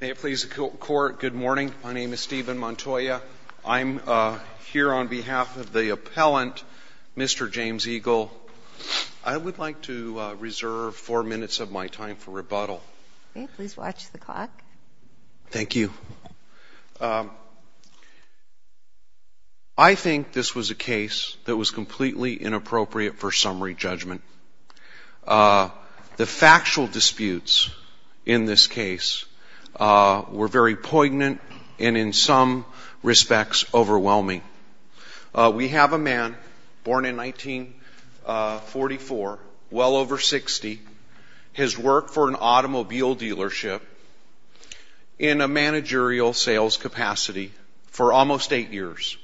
May it please the Court, good morning. My name is Stephen Montoya. I'm here on behalf of the appellant, Mr. James Eagle. I would like to reserve four minutes of my time for rebuttal. May it please watch the clock. Thank you. I think this was a case that was completely inappropriate for summary judgment. The factual disputes in this case were very poignant and in some respects overwhelming. We have a man born in 1944, well over 60, has worked for an automobile dealership in a managerial sales capacity for almost eight years.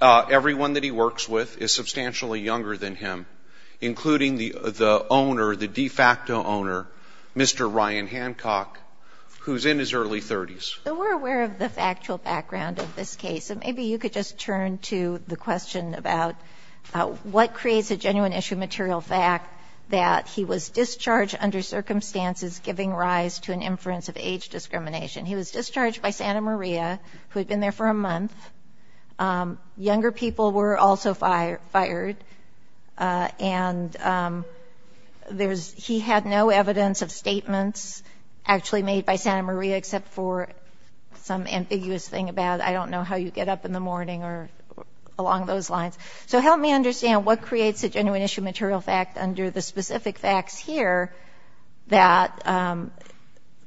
Everyone that he works with is substantially younger than him, including the owner, the de facto owner, Mr. Ryan Hancock, who's in his early 30s. We're aware of the factual background of this case, so maybe you could just turn to the question about what creates a genuine issue material fact that he was discharged under circumstances giving rise to an inference of age discrimination. He was discharged by Santa Maria, who had been there for a month. Younger people were also fired, and he had no evidence of statements actually made by Santa Maria except for some ambiguous thing about I don't know how you get up in the morning or along those lines. So help me understand what creates a genuine issue material fact under the specific facts here that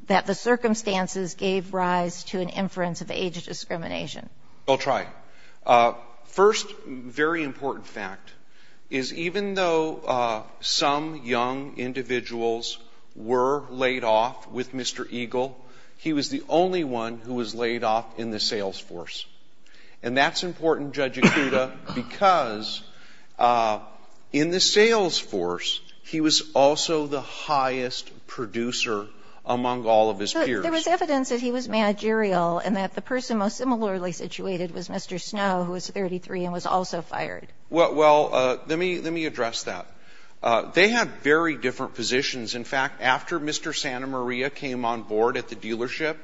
the circumstances gave rise to an inference of age discrimination. I'll try. First very important fact is even though some young individuals were laid off with Mr. Eagle, he was the only one who was laid off in the sales force. And that's important, Judge Acuda, because in the sales force, he was also the highest producer among all of his peers. But there was evidence that he was managerial and that the person most similarly situated was Mr. Snow, who was 33 and was also fired. Well, let me address that. They had very different positions. In fact, after Mr. Santa Maria came on board at the dealership,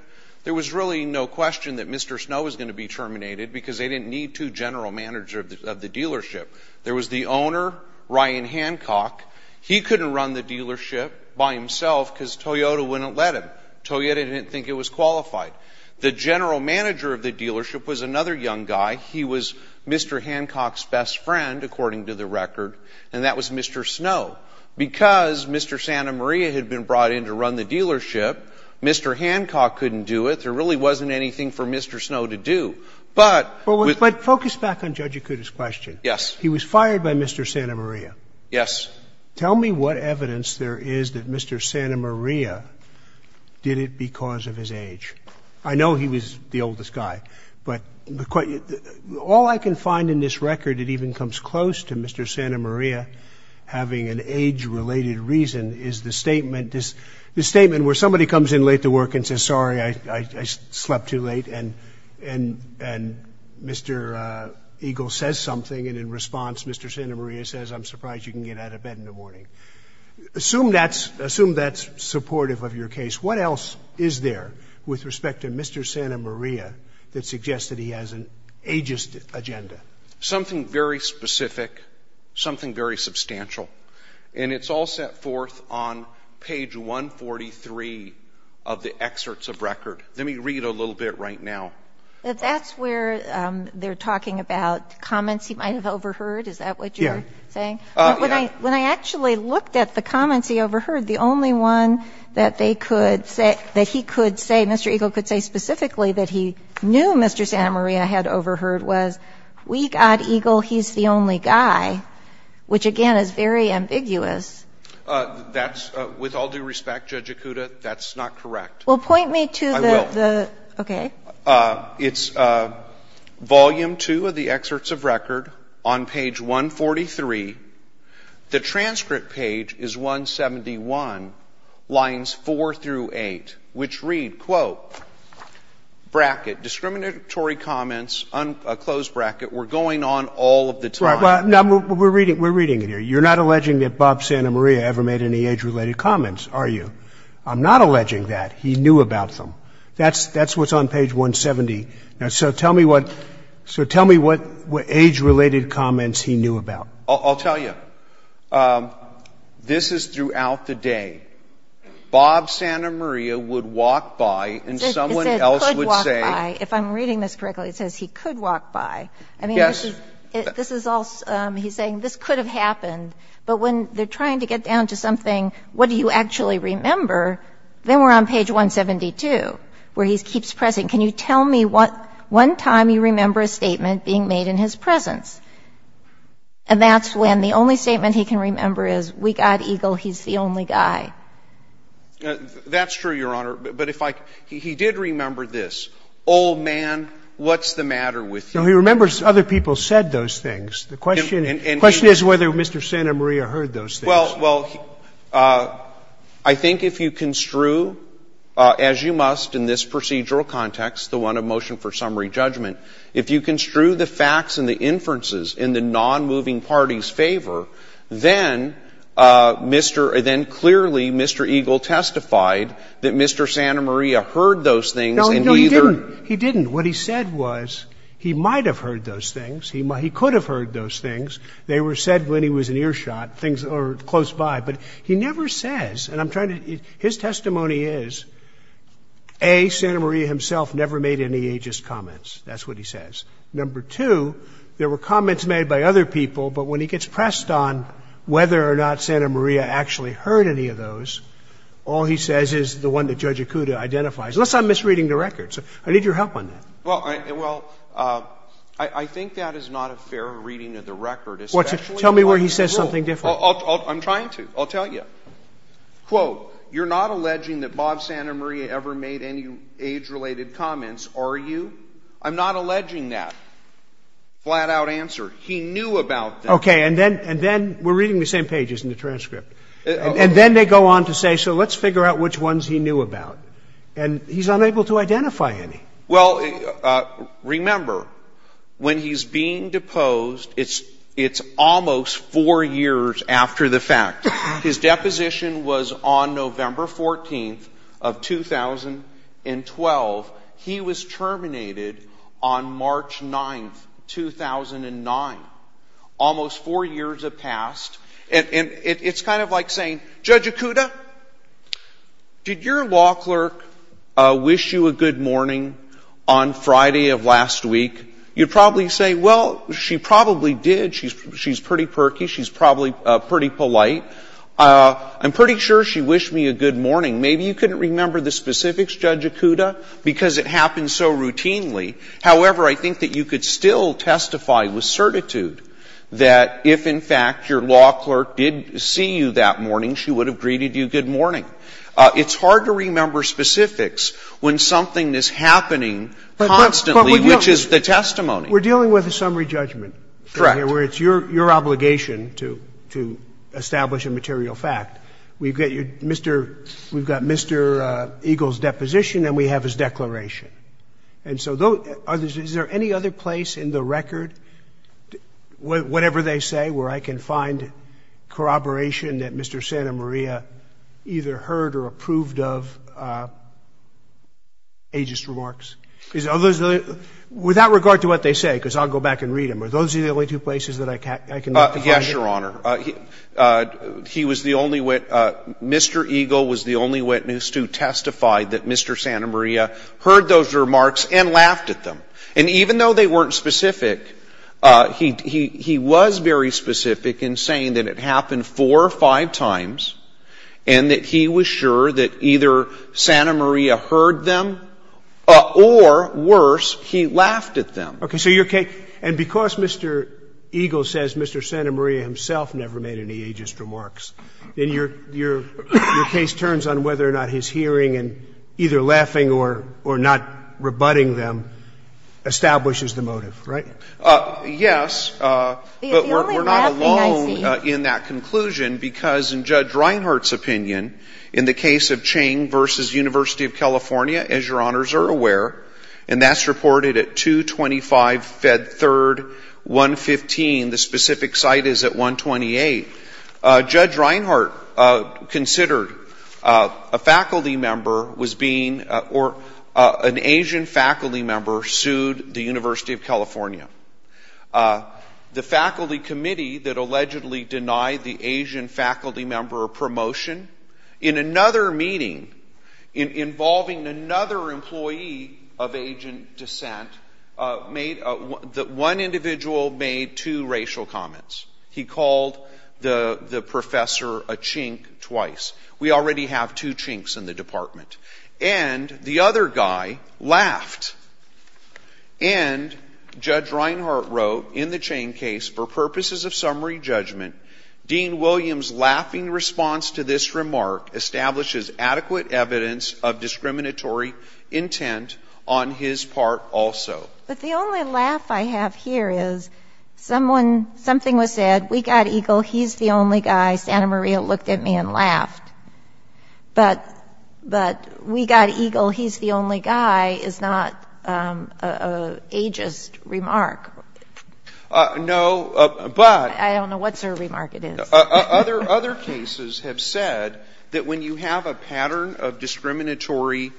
there was really no question that Mr. Snow was going to be terminated because they didn't need two general managers of the dealership. There was the owner, Ryan Hancock. He couldn't run the dealership by himself because Toyota wouldn't let him. Toyota didn't think it was qualified. The general manager of the dealership was another young guy. He was Mr. Hancock's best friend, according to the record, and that was Mr. Snow. Because Mr. Santa Maria had been brought in to run the dealership, Mr. Hancock couldn't do it. There really wasn't anything for Mr. Snow to do. But focus back on Judge Acuda's question. Yes. He was fired by Mr. Santa Maria. Yes. Tell me what evidence there is that Mr. Santa Maria did it because of his age. I know he was the oldest guy. But all I can find in this record that even comes close to Mr. Santa Maria having an age-related reason is the statement where somebody comes in late to work and says, sorry, I slept too late, and Mr. Eagle says something, and in response, Mr. Santa Maria says, I'm surprised you can get out of bed in the morning. Assume that's supportive of your case. What else is there with respect to Mr. Santa Maria that suggests that he has an ageist agenda? Something very specific, something very substantial, and it's all set forth on page 143 of the excerpts of record. Let me read a little bit right now. That's where they're talking about comments he might have overheard. Is that what you're saying? Yes. When I actually looked at the comments he overheard, the only one that they could say, that he could say, Mr. Eagle could say specifically that he knew Mr. Santa Maria had overheard was, we got Eagle, he's the only guy, which, again, is very ambiguous. That's, with all due respect, Judge Acuda, that's not correct. I will. It's volume 2 of the excerpts of record on page 143. The transcript page is 171, lines 4 through 8, which read, quote, bracket, discriminatory comments, close bracket, we're going on all of the time. Well, we're reading it here. You're not alleging that Bob Santa Maria ever made any age-related comments, are you? I'm not alleging that. He knew about them. That's what's on page 170. So tell me what age-related comments he knew about. I'll tell you. This is throughout the day. Bob Santa Maria would walk by and someone else would say. He said could walk by. If I'm reading this correctly, it says he could walk by. Yes. I mean, this is all he's saying. This could have happened. But when they're trying to get down to something, what do you actually remember, then we're on page 172, where he keeps pressing. Can you tell me what one time you remember a statement being made in his presence? And that's when the only statement he can remember is, we got Eagle, he's the only guy. That's true, Your Honor. But if I can. He did remember this. Old man, what's the matter with you? No, he remembers other people said those things. The question is whether Mr. Santa Maria heard those things. Well, I think if you construe, as you must in this procedural context, the one of motion for summary judgment, if you construe the facts and the inferences in the nonmoving parties' favor, then Mr. — then clearly Mr. Eagle testified that Mr. Santa Maria heard those things and he either. No, no, he didn't. He didn't. What he said was he might have heard those things. He could have heard those things. They were said when he was in earshot, things that were close by. But he never says, and I'm trying to — his testimony is, A, Santa Maria himself never made any ageist comments. That's what he says. Number two, there were comments made by other people, but when he gets pressed on whether or not Santa Maria actually heard any of those, all he says is the one that Judge Acuda identifies, unless I'm misreading the records. I need your help on that. Well, I think that is not a fair reading of the record. Tell me where he says something different. I'm trying to. I'll tell you. Quote, you're not alleging that Bob Santa Maria ever made any age-related comments, are you? I'm not alleging that. Flat-out answer. He knew about them. Okay. And then we're reading the same pages in the transcript. And then they go on to say, so let's figure out which ones he knew about. And he's unable to identify any. Well, remember, when he's being deposed, it's almost four years after the fact. His deposition was on November 14th of 2012. He was terminated on March 9th, 2009. Almost four years have passed. And it's kind of like saying, Judge Acuda, did your law clerk wish you a good morning on Friday of last week? You'd probably say, well, she probably did. She's pretty perky. She's probably pretty polite. I'm pretty sure she wished me a good morning. Maybe you couldn't remember the specifics, Judge Acuda, because it happens so routinely. However, I think that you could still testify with certitude that if, in fact, your law clerk did see you that morning, she would have greeted you good morning. It's hard to remember specifics when something is happening constantly, which is the testimony. We're dealing with a summary judgment. Correct. Where it's your obligation to establish a material fact. We've got Mr. Eagle's deposition and we have his declaration. And so is there any other place in the record, whatever they say, where I can find corroboration that Mr. Santa Maria either heard or approved of ageist remarks? Without regard to what they say, because I'll go back and read them, are those the only two places that I can look to find it? Yes, Your Honor. He was the only witness. Mr. Eagle was the only witness to testify that Mr. Santa Maria heard those remarks and laughed at them. And even though they weren't specific, he was very specific in saying that it happened four or five times and that he was sure that either Santa Maria heard them or, worse, he laughed at them. Okay. So your case — and because Mr. Eagle says Mr. Santa Maria himself never made any ageist remarks, then your case turns on whether or not his hearing and either laughing or not rebutting them establishes the motive, right? Yes, but we're not alone in that conclusion because in Judge Reinhart's opinion, in the case of Ching v. University of California, as Your Honors are aware, and that's reported at 225 Fed 3rd, 115. The specific site is at 128. Judge Reinhart considered a faculty member was being — or an Asian faculty member sued the University of California. The faculty committee that allegedly denied the Asian faculty member a promotion, in another meeting involving another employee of Asian descent, made — one individual made two racial comments. He called the professor a chink twice. We already have two chinks in the department. And the other guy laughed. And Judge Reinhart wrote in the chain case, for purposes of summary judgment, Dean Williams' laughing response to this remark establishes adequate evidence of discriminatory intent on his part also. But the only laugh I have here is someone — something was said. We got Eagle. He's the only guy. Santa Maria looked at me and laughed. But we got Eagle. He's the only guy is not an ageist remark. No, but — I don't know what sort of remark it is. Other cases have said that when you have a pattern of discriminatory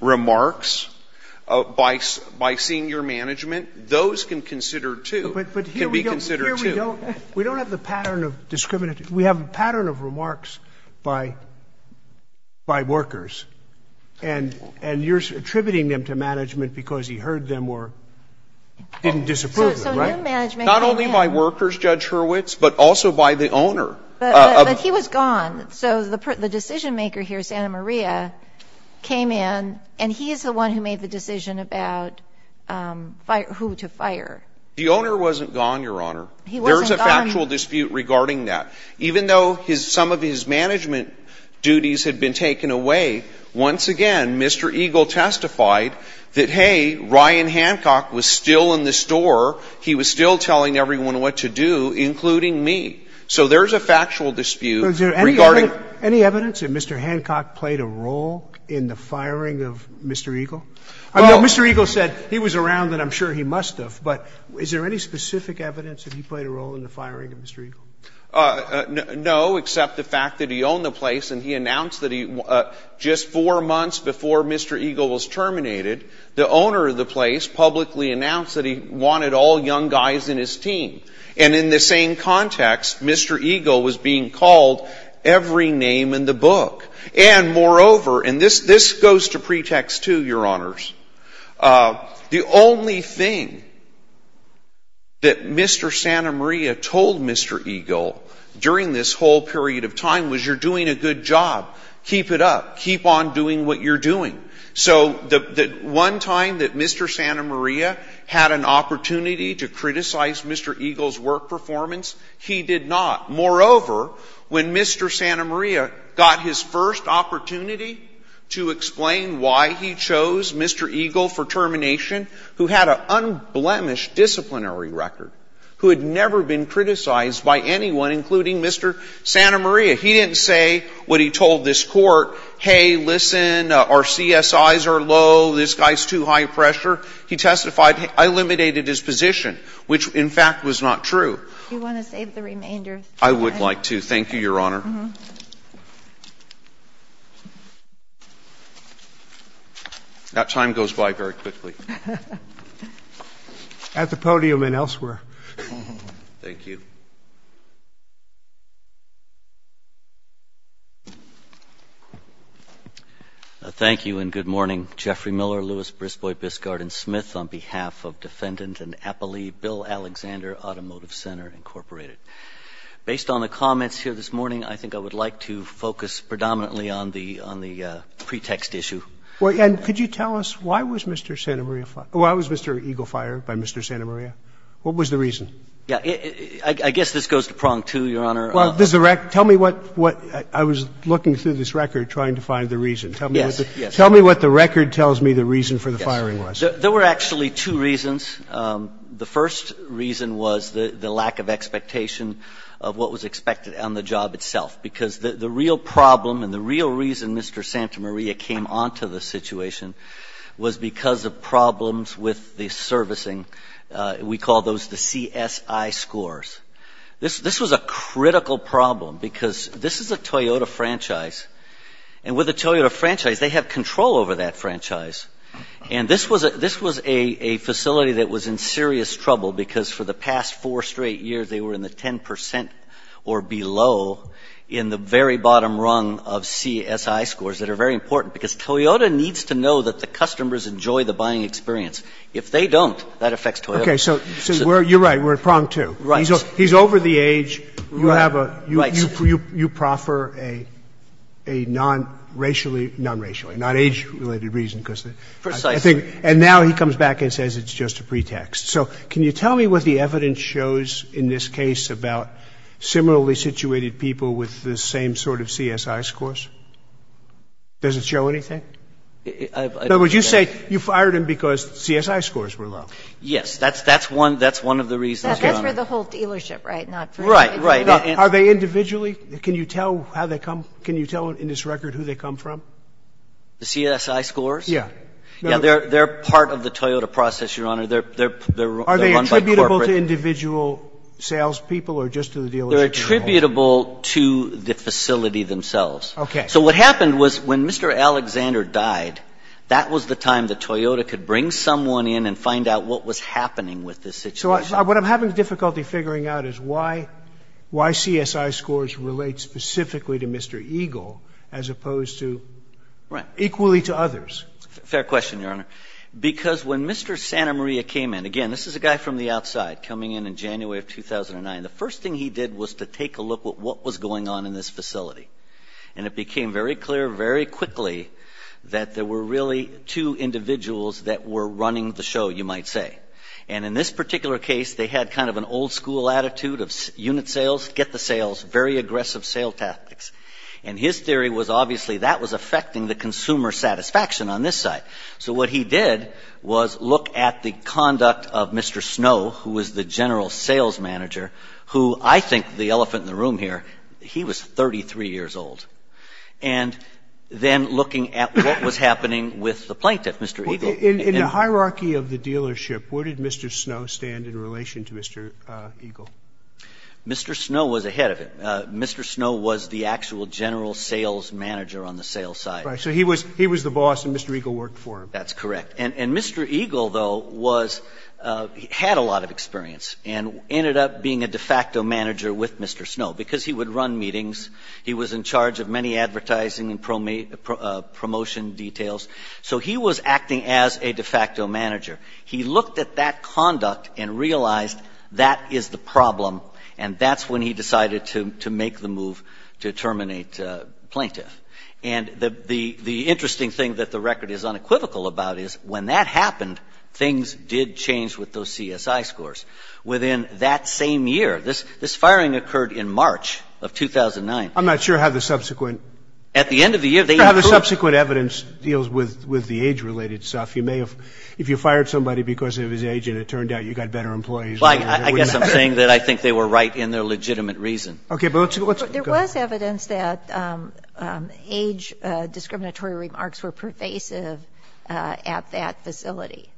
remarks by senior management, those can consider, too — But here we don't —— can be considered, too. We don't have the pattern of discriminatory — we have a pattern of remarks by workers. And you're attributing them to management because you heard them were in disapproval, right? So new management — Not only by workers, Judge Hurwitz, but also by the owner. But he was gone. So the decision-maker here, Santa Maria, came in, and he is the one who made the decision about who to fire. The owner wasn't gone, Your Honor. He wasn't gone. There's a factual dispute regarding that. Even though some of his management duties had been taken away, once again, Mr. Eagle testified that, hey, Ryan Hancock was still in the store. He was still telling everyone what to do, including me. So there's a factual dispute regarding — Was there any evidence that Mr. Hancock played a role in the firing of Mr. Eagle? Well — I mean, Mr. Eagle said he was around, and I'm sure he must have. But is there any specific evidence that he played a role in the firing of Mr. Eagle? No, except the fact that he owned the place, and he announced that he — just four months before Mr. Eagle was terminated, the owner of the place publicly announced that he wanted all young guys in his team. And in the same context, Mr. Eagle was being called every name in the book. And, moreover — and this goes to pretext, too, Your Honors — the only thing that Mr. Santa Maria told Mr. Eagle during this whole period of time was, you're doing a good job. Keep it up. You're doing what you're doing. So the one time that Mr. Santa Maria had an opportunity to criticize Mr. Eagle's work performance, he did not. Moreover, when Mr. Santa Maria got his first opportunity to explain why he chose Mr. Eagle for termination, who had an unblemished disciplinary record, who had never been criticized by anyone, including Mr. Santa Maria, he didn't say what he told this man, our CSIs are low, this guy's too high pressure. He testified, I eliminated his position, which, in fact, was not true. You want to save the remainder? I would like to. Thank you, Your Honor. Mm-hmm. That time goes by very quickly. At the podium and elsewhere. Thank you. Thank you. Thank you and good morning. Jeffrey Miller, Lewis, Brisbois, Biscard, and Smith on behalf of defendant and appellee Bill Alexander, Automotive Center, Incorporated. Based on the comments here this morning, I think I would like to focus predominantly on the pretext issue. And could you tell us why was Mr. Santa Maria fired? Why was Mr. Eagle fired by Mr. Santa Maria? What was the reason? Yeah. I guess this goes to prong two, Your Honor. Well, there's a record. Tell me what I was looking through this record trying to find the reason. Yes. Tell me what the record tells me the reason for the firing was. There were actually two reasons. The first reason was the lack of expectation of what was expected on the job itself, because the real problem and the real reason Mr. Santa Maria came onto the situation was because of problems with the servicing. We call those the CSI scores. This was a critical problem because this is a Toyota franchise. And with a Toyota franchise, they have control over that franchise. And this was a facility that was in serious trouble because for the past four straight years, they were in the 10% or below in the very bottom rung of CSI scores that are very important because Toyota needs to know that the customers enjoy the buying experience. If they don't, that affects Toyota. Okay. So you're right. We're at prong two. Right. He's over the age. You have a – you proffer a non-racially – non-racially, not age-related reason because I think – Precisely. And now he comes back and says it's just a pretext. So can you tell me what the evidence shows in this case about similarly situated people with the same sort of CSI scores? Does it show anything? In other words, you say you fired him because CSI scores were low. Yes. That's one of the reasons. That's for the whole dealership, right? Right. Right. Are they individually? Can you tell how they come – can you tell in this record who they come from? The CSI scores? Yeah. Yeah. They're part of the Toyota process, Your Honor. They're run by corporate – Are they attributable to individual salespeople or just to the dealership? They're attributable to the facility themselves. Okay. So what happened was when Mr. Alexander died, that was the time that Toyota could bring someone in and find out what was happening with this situation. So what I'm having difficulty figuring out is why – why CSI scores relate specifically to Mr. Eagle as opposed to – Right. Equally to others. Fair question, Your Honor, because when Mr. Santa Maria came in – again, this is a guy from the outside coming in in January of 2009. The first thing he did was to take a look at what was going on in this facility. And it became very clear very quickly that there were really two individuals that were running the show, you might say. And in this particular case, they had kind of an old-school attitude of unit sales, get the sales, very aggressive sale tactics. And his theory was obviously that was affecting the consumer satisfaction on this side. So what he did was look at the conduct of Mr. Snow, who was the general sales manager, who I think the elephant in the room here, he was 33 years old. And then looking at what was happening with the plaintiff, Mr. Eagle. In the hierarchy of the dealership, where did Mr. Snow stand in relation to Mr. Eagle? Mr. Snow was ahead of him. Mr. Snow was the actual general sales manager on the sales side. Right. So he was the boss and Mr. Eagle worked for him. That's correct. And Mr. Eagle, though, was, had a lot of experience and ended up being a de facto manager with Mr. Snow because he would run meetings. He was in charge of many advertising and promotion details. So he was acting as a de facto manager. He looked at that conduct and realized that is the problem and that's when he decided to make the move to terminate plaintiff. And the interesting thing that the record is unequivocal about is when that happened, things did change with those CSI scores. Within that same year, this firing occurred in March of 2009. I'm not sure how the subsequent. At the end of the year. I'm not sure how the subsequent evidence deals with the age-related stuff. You may have, if you fired somebody because of his age and it turned out you got better employees. I guess I'm saying that I think they were right in their legitimate reason. Okay, but let's go. There was evidence that age discriminatory remarks were pervasive at that facility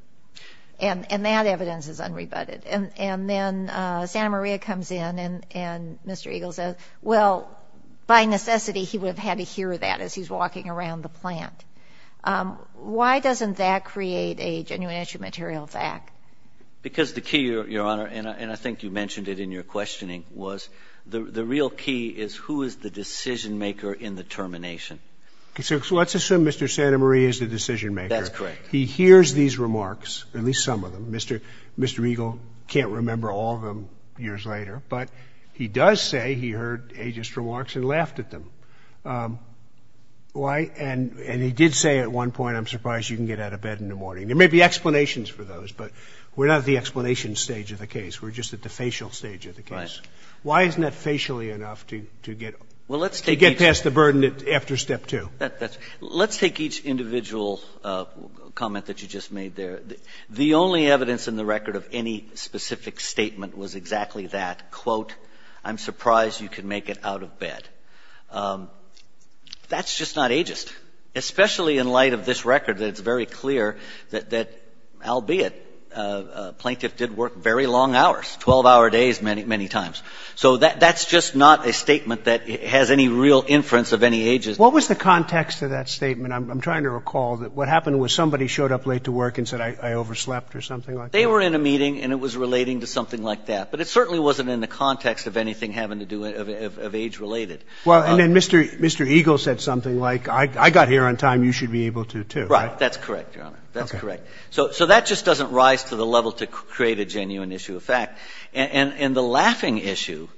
and that evidence is unrebutted. And then Santa Maria comes in and Mr. Eagle says, well, by necessity, he would have had to hear that as he's walking around the plant. Why doesn't that create a genuine issue material fact? Because the key, Your Honor, and I think you mentioned it in your questioning, was the real key is who is the decision-maker in the termination. So let's assume Mr. Santa Maria is the decision-maker. That's correct. He hears these remarks, at least some of them. Mr. Eagle can't remember all of them years later. But he does say he heard ageist remarks and laughed at them. And he did say at one point, I'm surprised you can get out of bed in the morning. There may be explanations for those, but we're not at the explanation stage of the case. We're just at the facial stage of the case. Right. Why isn't that facially enough to get past the burden after Step 2? Let's take each individual comment that you just made there. The only evidence in the record of any specific statement was exactly that. Quote, I'm surprised you can make it out of bed. That's just not ageist, especially in light of this record that it's very clear that, albeit, a plaintiff did work very long hours, 12-hour days many times. So that's just not a statement that has any real inference of any ageism. What was the context of that statement? I'm trying to recall. What happened was somebody showed up late to work and said, I overslept or something like that? They were in a meeting and it was relating to something like that. But it certainly wasn't in the context of anything having to do with age-related. Well, and then Mr. Eagle said something like, I got here on time, you should be able to, too, right? That's correct, Your Honor. That's correct. Okay. So that just doesn't rise to the level to create a genuine issue of fact. And the laughing issue,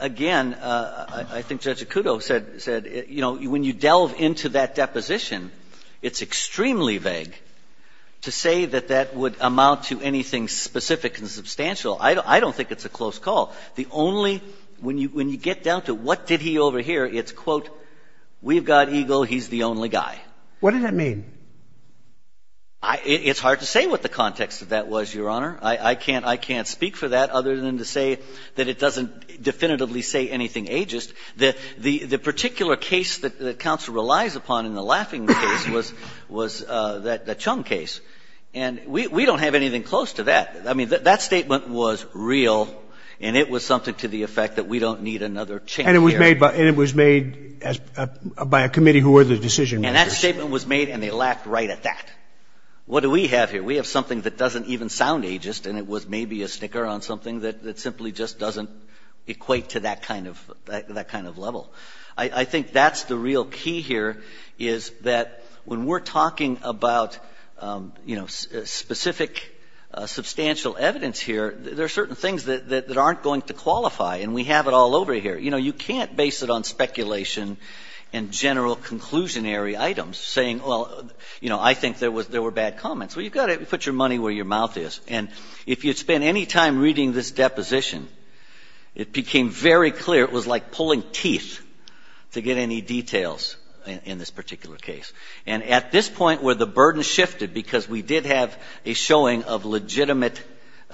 again, I think Judge Acuto said, you know, when you delve into that deposition, it's extremely vague to say that that would amount to anything specific and substantial. I don't think it's a close call. The only – when you get down to what did he overhear, it's, quote, we've got Eagle, he's the only guy. What does that mean? It's hard to say what the context of that was, Your Honor. I can't speak for that other than to say that it doesn't definitively say anything ageist. The particular case that counsel relies upon in the laughing case was the Chung case. And we don't have anything close to that. I mean, that statement was real and it was something to the effect that we don't need another change here. And it was made by a committee who were the decision makers. And that statement was made and they laughed right at that. What do we have here? We have something that doesn't even sound ageist and it was maybe a sticker on something that simply just doesn't equate to that kind of level. I think that's the real key here is that when we're talking about, you know, specific substantial evidence here, there are certain things that aren't going to qualify and we have it all over here. You know, you can't base it on speculation and general conclusionary items saying, well, you know, I think there were bad comments. Well, you've got to put your money where your mouth is. And if you'd spend any time reading this deposition, it became very clear it was like pulling teeth to get any details in this particular case. And at this point where the burden shifted because we did have a showing of legitimate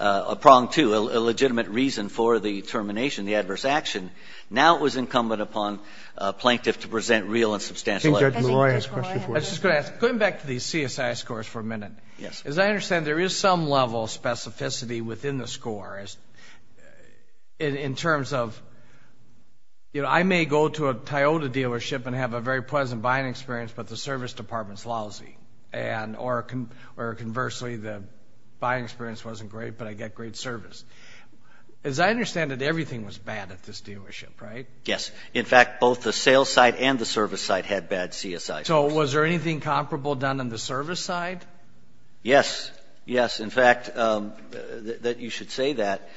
a prong to, a legitimate reason for the termination, the adverse action, now it was incumbent upon a plaintiff to present real and substantial evidence. I think Judge Malloy has a question for us. I was just going to ask, going back to the CSI scores for a minute, as I understand there is some level of specificity within the score in terms of, you know, I may go to a Toyota dealership and have a very pleasant buying experience, but the service department is lousy, or conversely, the buying experience wasn't great, but I get great service. As I understand it, everything was bad at this dealership, right? Yes. In fact, both the sales side and the service side had bad CSI scores. So was there anything comparable done on the service side? Yes. Yes. In fact, you should say that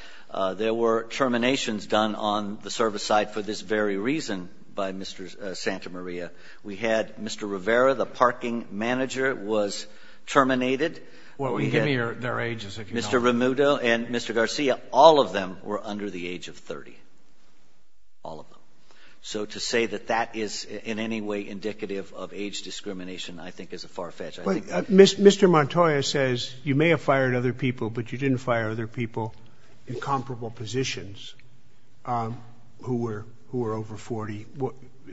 there were terminations done on the service side for this very reason by Mr. Santa Maria. We had Mr. Rivera, the parking manager, was terminated. Well, give me their age so I can tell. Mr. Ramuto and Mr. Garcia, all of them were under the age of 30, all of them. So to say that that is in any way indicative of age discrimination I think is a far fetch. Mr. Montoya says you may have fired other people, but you didn't fire other people in comparable positions who were over 40.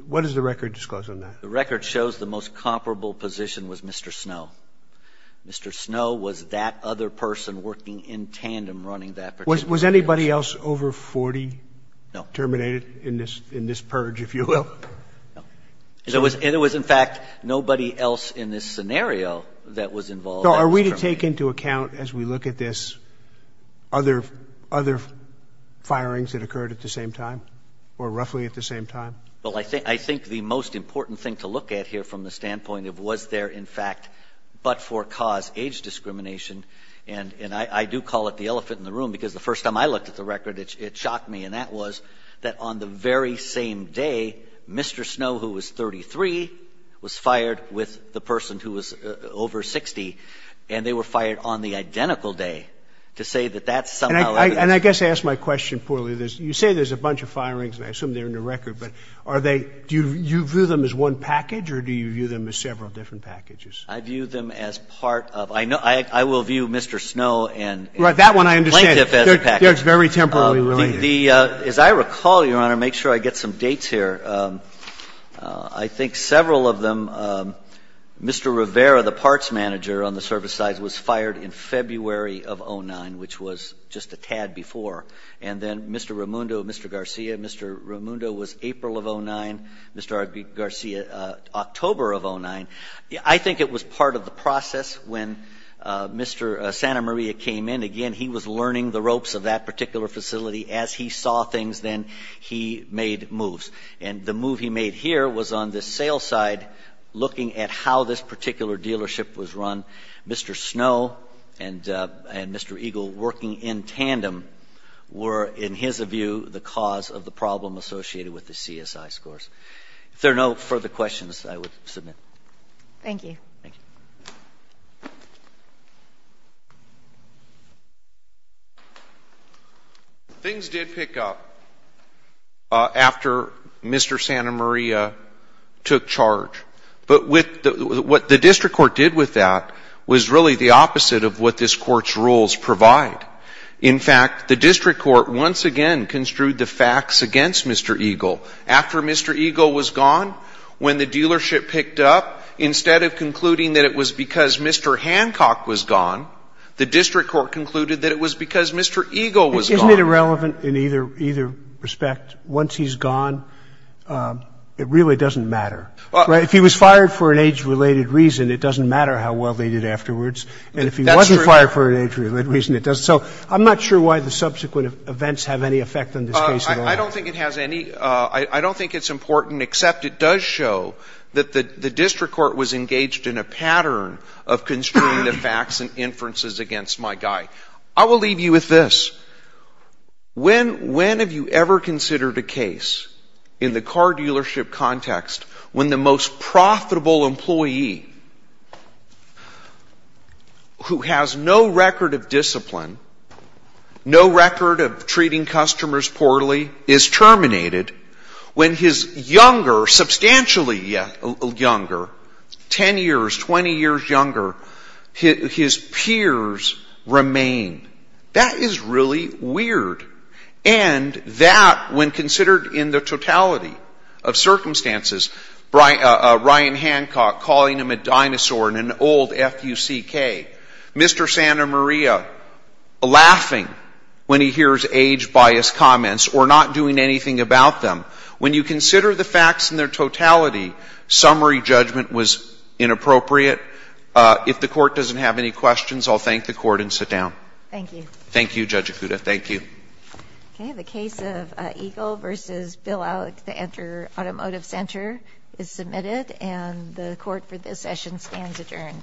What does the record disclose on that? The record shows the most comparable position was Mr. Snow. Mr. Snow was that other person working in tandem running that particular business. Was anybody else over 40 terminated in this purge, if you will? No. And it was, in fact, nobody else in this scenario that was involved. So are we to take into account as we look at this other firings that occurred at the same time or roughly at the same time? Well, I think the most important thing to look at here from the standpoint of was there, in fact, but for cause age discrimination, and I do call it the elephant in the room because the first time I looked at the record, it shocked me, and that was that on the very same day, Mr. Snow, who was 33, was fired with the person who was over 60, and they were fired on the identical day to say that that's somehow evidence. And I guess I asked my question poorly. You say there's a bunch of firings, and I assume they're in the record, but are they – do you view them as one package or do you view them as several different packages? I view them as part of – I will view Mr. Snow and Plaintiff as a package. Right. That one I understand. They're just very temporarily related. As I recall, Your Honor, make sure I get some dates here. I think several of them – Mr. Rivera, the parts manager on the service side, was fired in February of 2009, which was just a tad before, and then Mr. Ramundo, Mr. Garcia, Mr. Ramundo was April of 2009, Mr. Garcia October of 2009. I think it was part of the process when Mr. Santa Maria came in. Again, he was learning the ropes of that particular facility. As he saw things, then he made moves, and the move he made here was on the sales side looking at how this particular dealership was run. Mr. Snow and Mr. Eagle working in tandem were, in his view, the cause of the problem associated with the CSI scores. If there are no further questions, I would submit. Thank you. Thank you. Things did pick up after Mr. Santa Maria took charge, but what the district court did with that was really the opposite of what this court's rules provide. In fact, the district court once again construed the facts against Mr. Eagle. After Mr. Eagle was gone, when the dealership picked up, instead of concluding that it was because Mr. Hancock was gone, the district court concluded that it was because Mr. Eagle was gone. Isn't it irrelevant in either respect? Once he's gone, it really doesn't matter. If he was fired for an age-related reason, it doesn't matter how well they did afterwards. And if he wasn't fired for an age-related reason, it doesn't. So I'm not sure why the subsequent events have any effect on this case at all. I don't think it has any. I don't think it's important, except it does show that the district court was engaged in a pattern of construing the facts and inferences against my guy. I will leave you with this. When have you ever considered a case in the car dealership context when the most profitable employee who has no record of discipline, no record of treating customers poorly, is terminated, when his younger, substantially younger, 10 years, 20 years younger, his peers remain? That is really weird. And that, when considered in the totality of circumstances, Ryan Hancock calling him a dinosaur and an old F-U-C-K, Mr. Santa Maria laughing when he hears age-biased comments or not doing anything about them, when you consider the facts in their totality, summary judgment was inappropriate. If the Court doesn't have any questions, I'll thank the Court and sit down. Thank you. Thank you, Judge Okuda. Thank you. Okay. The case of Eagle v. Bill Alex, the Enter Automotive Center, is submitted, and the Court for this session stands adjourned.